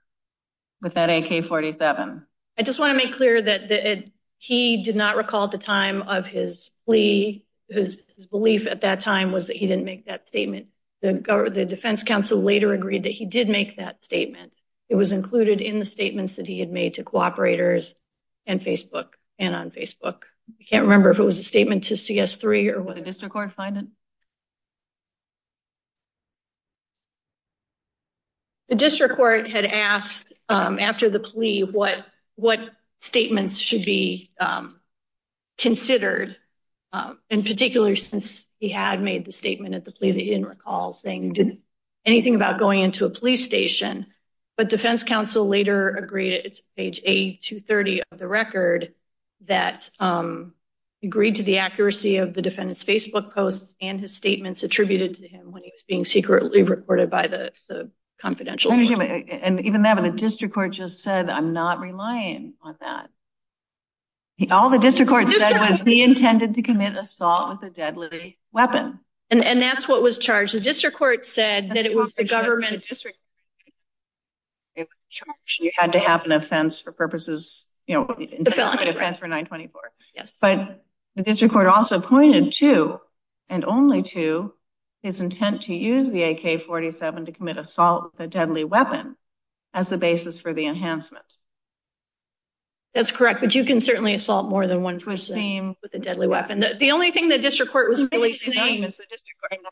with that AK-47. I just want to make clear that he did not recall the time of his plea. His belief at that time was that he didn't make that statement. The defense counsel later agreed that he did make that statement. It was included in the statements that he had made to cooperators and Facebook and on Facebook. I can't remember if it was a statement to CS3 or what. The district court find it? The district court had asked after the plea what statements should be considered. In particular, since he had made the statement at the plea that he didn't recall saying anything about going into a police station. But defense counsel later agreed, it's page A230 of the record, that agreed to the accuracy of the defendant's Facebook posts and his statements attributed to him when he was being secretly reported by the confidential. And even having a district court just said, I'm not relying on that. All the district court said was he intended to commit assault with a deadly weapon. And that's what was charged. The district court said that it was the government's. You had to have an offense for purposes, you know, for 924. Yes. But the district court also pointed to and only to his intent to use the AK-47 to commit assault with a deadly weapon as the basis for the enhancement. That's correct. But you can certainly assault more than one person with a deadly weapon. The only thing the district court was really saying.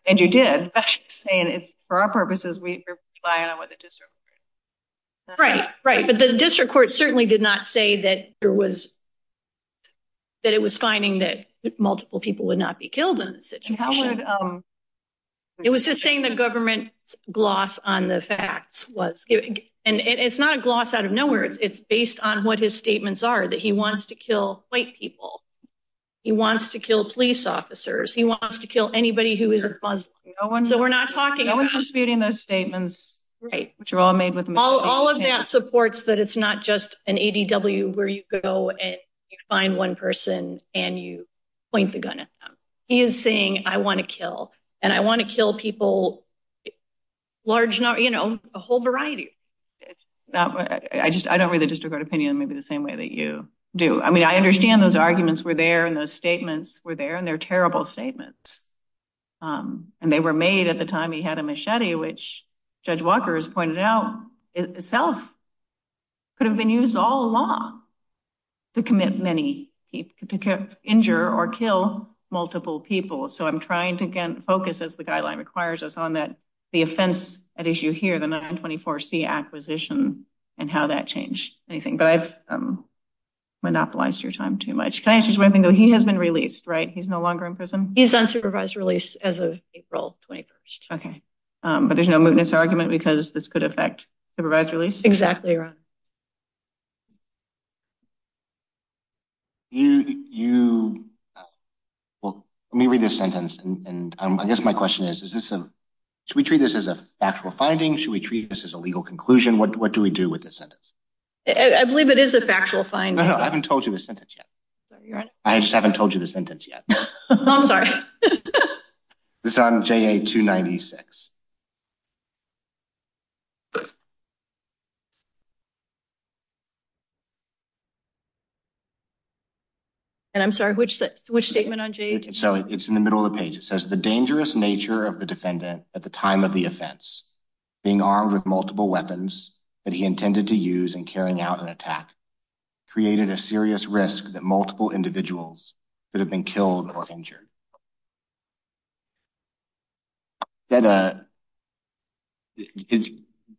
And you did saying it's for our purposes, we rely on what the district. Right, right. But the district court certainly did not say that there was. That it was finding that multiple people would not be killed in this situation. It was just saying the government gloss on the facts was. And it's not a gloss out of nowhere. It's based on what his statements are, that he wants to kill white people. He wants to kill police officers. He wants to kill anybody who isn't Muslim. So we're not talking about. No one's disputing those statements. Right. Which are all made with. All of that supports that it's not just an ADW where you go and find one person. And you point the gun at them. He is saying, I want to kill and I want to kill people. Large, you know, a whole variety. I just I don't really just regard opinion maybe the same way that you do. I mean, I understand those arguments were there and those statements were there. They're terrible statements. And they were made at the time he had a machete, which Judge Walker has pointed out itself. Could have been used all along to commit many people to injure or kill multiple people. So I'm trying to get focus as the guideline requires us on that. The offense at issue here, the 924 acquisition and how that changed anything. But I've monopolized your time too much. Can I ask you something, though? He has been released, right? He's no longer in prison. He's on supervised release as of April 21st. OK, but there's no mootness argument because this could affect supervised release. Exactly right. You, you. Well, let me read this sentence, and I guess my question is, is this a should we treat this as a factual finding? Should we treat this as a legal conclusion? What do we do with this sentence? I believe it is a factual find. No, no, I haven't told you the sentence yet. I just haven't told you the sentence yet. I'm sorry. This is on JA-296. And I'm sorry, which, which statement on JA-296? So it's in the middle of the page. It says the dangerous nature of the defendant at the time of the offense, being armed with multiple weapons that he intended to use in carrying out an attack, created a serious risk that multiple individuals could have been killed or injured. That, uh,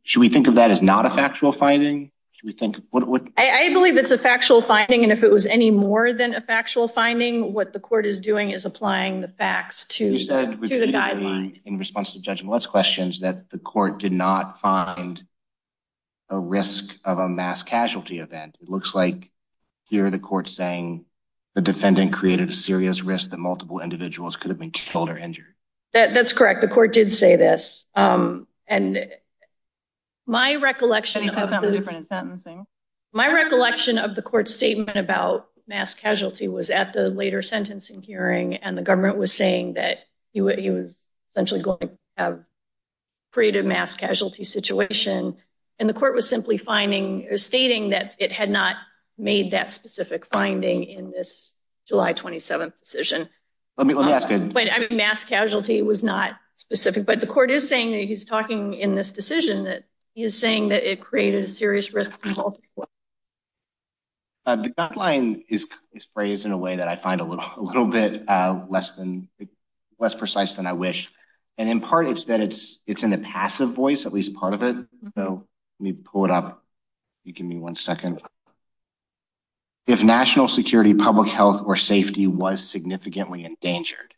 should we think of that as not a factual finding? Should we think what? I believe it's a factual finding, and if it was any more than a factual finding, what the court is doing is applying the facts to the guidelines. In response to Judge Millett's questions that the court did not find a risk of a mass casualty event. It looks like here the court's saying the defendant created a serious risk that multiple individuals could have been killed or injured. That's correct. The court did say this. And my recollection of the court's statement about mass casualty was at the later sentencing hearing, and the government was saying that he was essentially going to have created mass casualty situation, and the court was simply finding or stating that it had not made that specific finding in this July 27th decision. Let me, let me ask you. But I mean, mass casualty was not specific, but the court is saying that he's talking in this decision that he is saying that it created a serious risk. The guideline is phrased in a way that I find a little bit less precise than I wish, and in part it's that it's in the passive voice, at least part of it. So let me pull it up. You give me one second. If national security, public health, or safety was significantly endangered,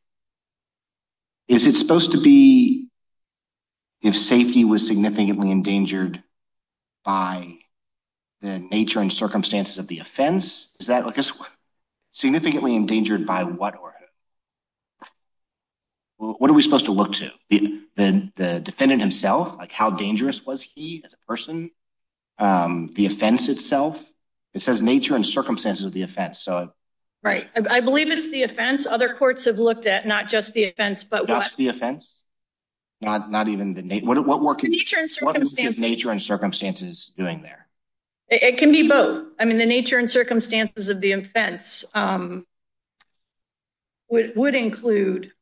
is it supposed to be if safety was significantly endangered by the nature and circumstances of the offense? Is that, I guess, significantly endangered by what? What are we supposed to look to the defendant himself? Like, how dangerous was he as a person? The offense itself, it says nature and circumstances of the offense. So, right. I believe it's the offense. Other courts have looked at not just the offense, but the offense, not even the nature and circumstances doing there. It can be both. The nature and circumstances of the offense would include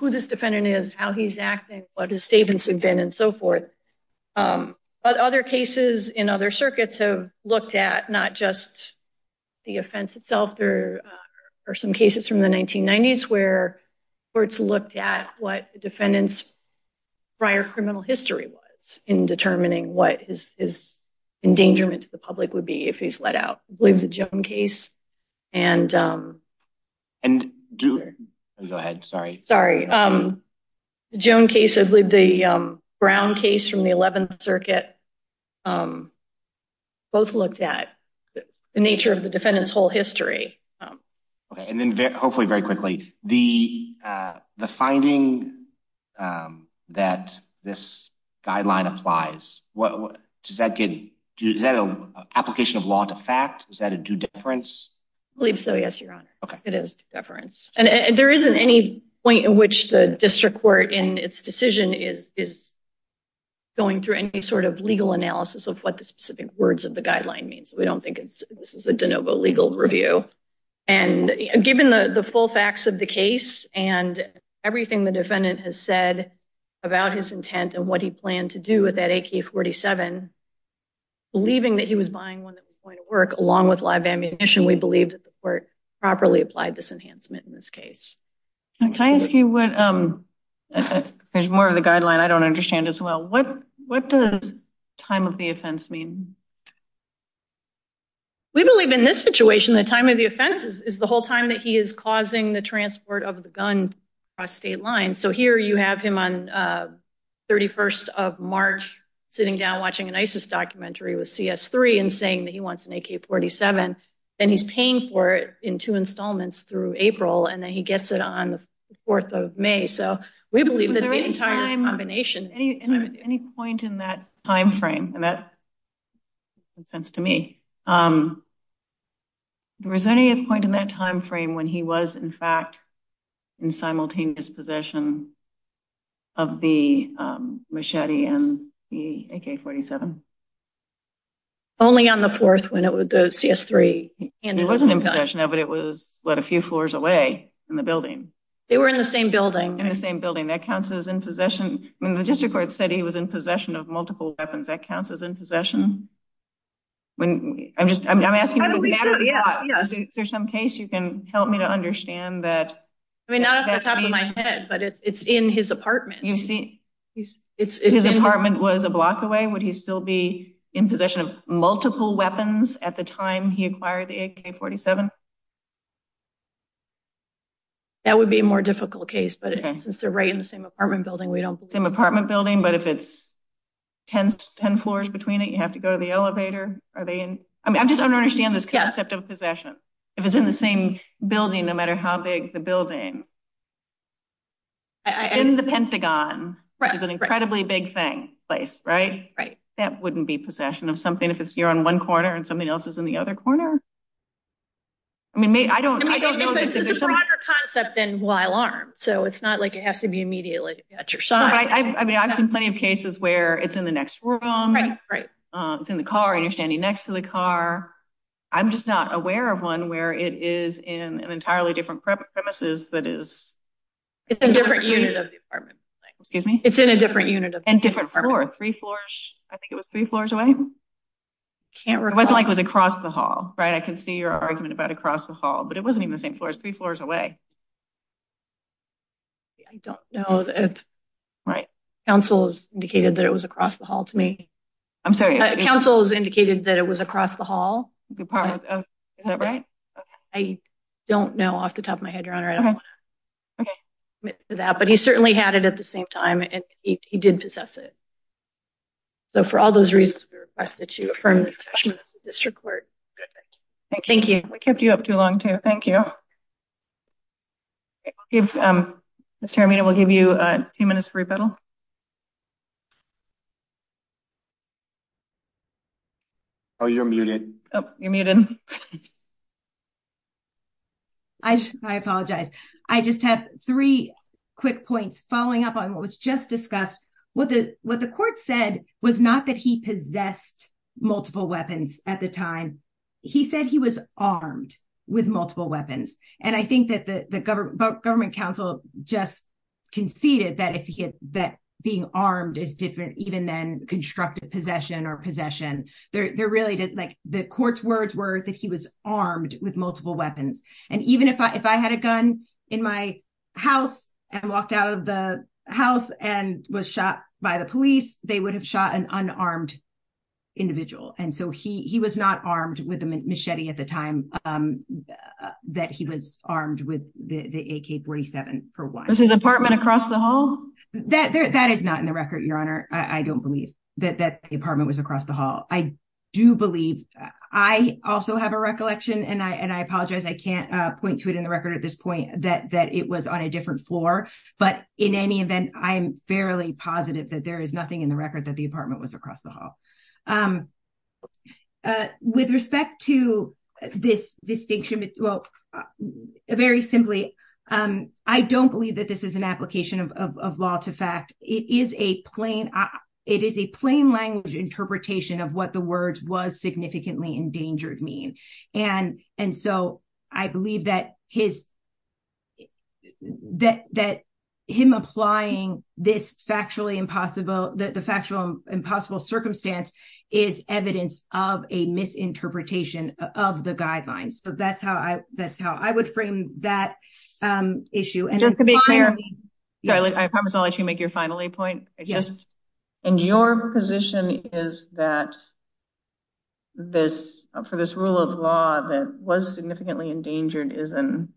who this defendant is, how he's acting, what his statements have been, and so forth. Other cases in other circuits have looked at not just the offense itself. There are some cases from the 1990s where courts looked at what the defendant's prior criminal history was in determining what his endangerment to the public would be if he's let out. I believe the Joan case and... Go ahead. Sorry. Sorry. The Joan case, I believe the Brown case from the 11th Circuit, both looked at the nature of the defendant's whole history. Okay. And then, hopefully, very quickly, the finding that this guideline applies, does that get... Is that an application of law to fact? Is that a due difference? I believe so, yes, Your Honor. It is due difference. And there isn't any point in which the district court in its decision is going through any sort of legal analysis of what the specific words of the guideline means. We don't think this is a de novo legal review. And given the full facts of the case and everything the defendant has said about his intent and what he planned to do with that AK-47, believing that he was buying one that was going to work along with live ammunition, we believe that the court properly applied this enhancement in this case. Can I ask you what... There's more of the guideline I don't understand as well. What does time of the offense mean? We believe in this situation, the time of the offense is the whole time that he is causing the transport of the gun across state lines. So here you have him on 31st of March, sitting down watching an ISIS documentary with CS3 and saying that he wants an AK-47, and he's paying for it in two installments through April, and then he gets it on the 4th of May. So we believe that the entire combination... Any point in that time frame, and that makes sense to me. There was any point in that time frame when he was, in fact, in simultaneous possession of the machete and the AK-47? Only on the 4th, when the CS3 handed him the gun. He wasn't in possession of it. It was, what, a few floors away in the building. They were in the same building. In the same building. That counts as in possession. The district court said he was in possession of multiple weapons. That counts as in possession? I'm asking you the matter of fact. Is there some case you can help me to understand that... Not off the top of my head, but it's in his apartment. His apartment was a block away? Would he still be in possession of multiple weapons at the time he acquired the AK-47? That would be a more difficult case, but since they're right in the same apartment building, same apartment building, but if it's 10 floors between it, you have to go to the elevator. I'm just trying to understand this concept of possession. If it's in the same building, no matter how big the building, in the Pentagon, which is an incredibly big place, right? That wouldn't be possession of something if you're on one corner and something else is in the other corner? It's a broader concept than while armed, so it's not like it has to be immediately at your side. I've seen plenty of cases where it's in the next room, it's in the car, and you're standing next to the car. I'm just not aware of one where it is in an entirely different premises that is... It's in a different unit of the apartment building. Excuse me? It's in a different unit of the apartment building. And different floor, three floors, I think it was three floors away? It wasn't like it was across the hall, right? I can see your argument about across the hall, but it wasn't even the same floor, it was three floors away. I don't know. Counsel has indicated that it was across the hall to me. I'm sorry? Counsel has indicated that it was across the hall. Is that right? I don't know off the top of my head, Your Honor. I don't want to admit to that, but he certainly had it at the same time, and he did possess it. So for all those reasons, we request that you affirm the attachment to the district court. Thank you. We kept you up too long, too. Thank you. Okay, Mr. Armino, we'll give you two minutes for rebuttal. Oh, you're muted. Oh, you're muted. I apologize. I just have three quick points following up on what was just discussed. What the court said was not that he possessed multiple weapons at the time. He said he was armed with multiple weapons, and I think that the government counsel just conceded that being armed is different even than constructive possession or possession. The court's words were that he was armed with multiple weapons, and even if I had a gun in my house and walked out of the house and was shot by the police, they would have shot an unarmed individual. And so he was not armed with a machete at the time that he was armed with the AK-47, for one. Was his apartment across the hall? That is not in the record, Your Honor. I don't believe that the apartment was across the hall. I do believe, I also have a recollection, and I apologize, I can't point to it in the record at this point, that it was on a different floor. But in any event, I am fairly positive that there is nothing in the record that the apartment was across the hall. With respect to this distinction, well, very simply, I don't believe that this is an application of law to fact. It is a plain language interpretation of what the words was significantly endangered mean. And so I believe that him applying this factually impossible, circumstance is evidence of a misinterpretation of the guidelines. So that's how I would frame that issue. And just to be clear, I promise I'll let you make your final point. And your position is that for this rule of law that was significantly endangered is an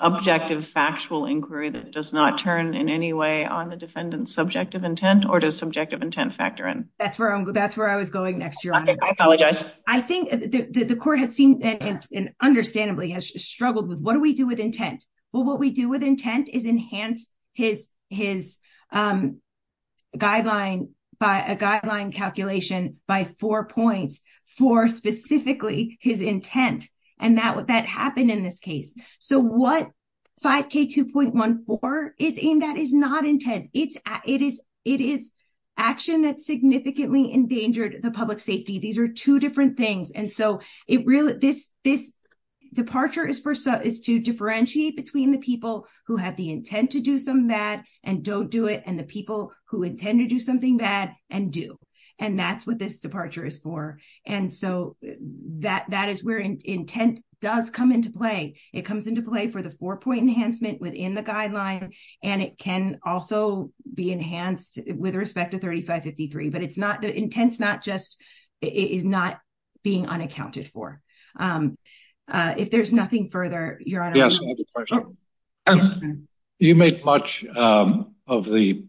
objective factual inquiry that does not turn in any way on the defendant's subjective intent, or does subjective intent factor in? That's where I was going next, Your Honor. I apologize. I think the court has seen, and understandably has struggled with, what do we do with intent? Well, what we do with intent is enhance his guideline calculation by four points for specifically his intent. And that happened in this case. So what 5K2.14 is aimed at is not intent. It is action that significantly endangered the public safety. These are two different things. And so this departure is to differentiate between the people who have the intent to do some bad and don't do it, and the people who intend to do something bad and do. And that's what this departure is for. And so that is where intent does come into play. It comes into play for the four-point enhancement within the guideline. And it can also be enhanced with respect to 3553. But the intent is not being unaccounted for. If there's nothing further, Your Honor. Yes, I have a question. You make much of the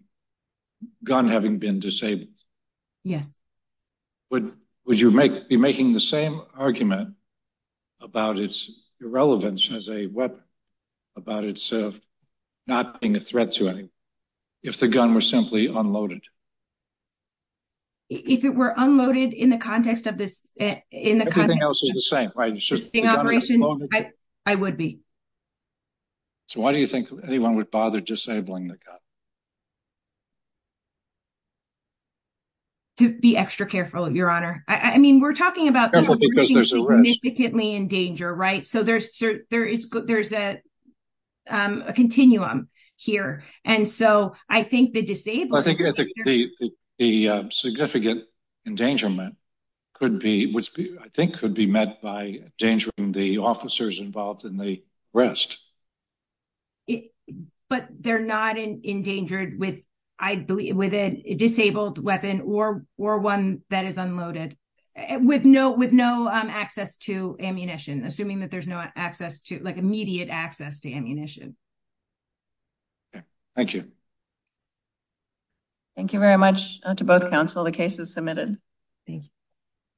gun having been disabled. Yes. Would you be making the same argument about its irrelevance as a weapon, about its not being a threat to anyone, if the gun were simply unloaded? If it were unloaded in the context of this... Everything else is the same, right? It's just the gun is unloaded. I would be. So why do you think anyone would bother disabling the gun? To be extra careful, Your Honor. I mean, we're talking about... Careful because there's a risk. ...significantly in danger, right? There is a continuum here. And so I think the disabling... I think the significant endangerment could be... I think could be met by endangering the officers involved in the arrest. But they're not endangered with a disabled weapon or one that is unloaded, with no access to ammunition, assuming that there's no access to... Like immediate access to ammunition. Thank you. Thank you very much to both counsel. The case is submitted. Thank you.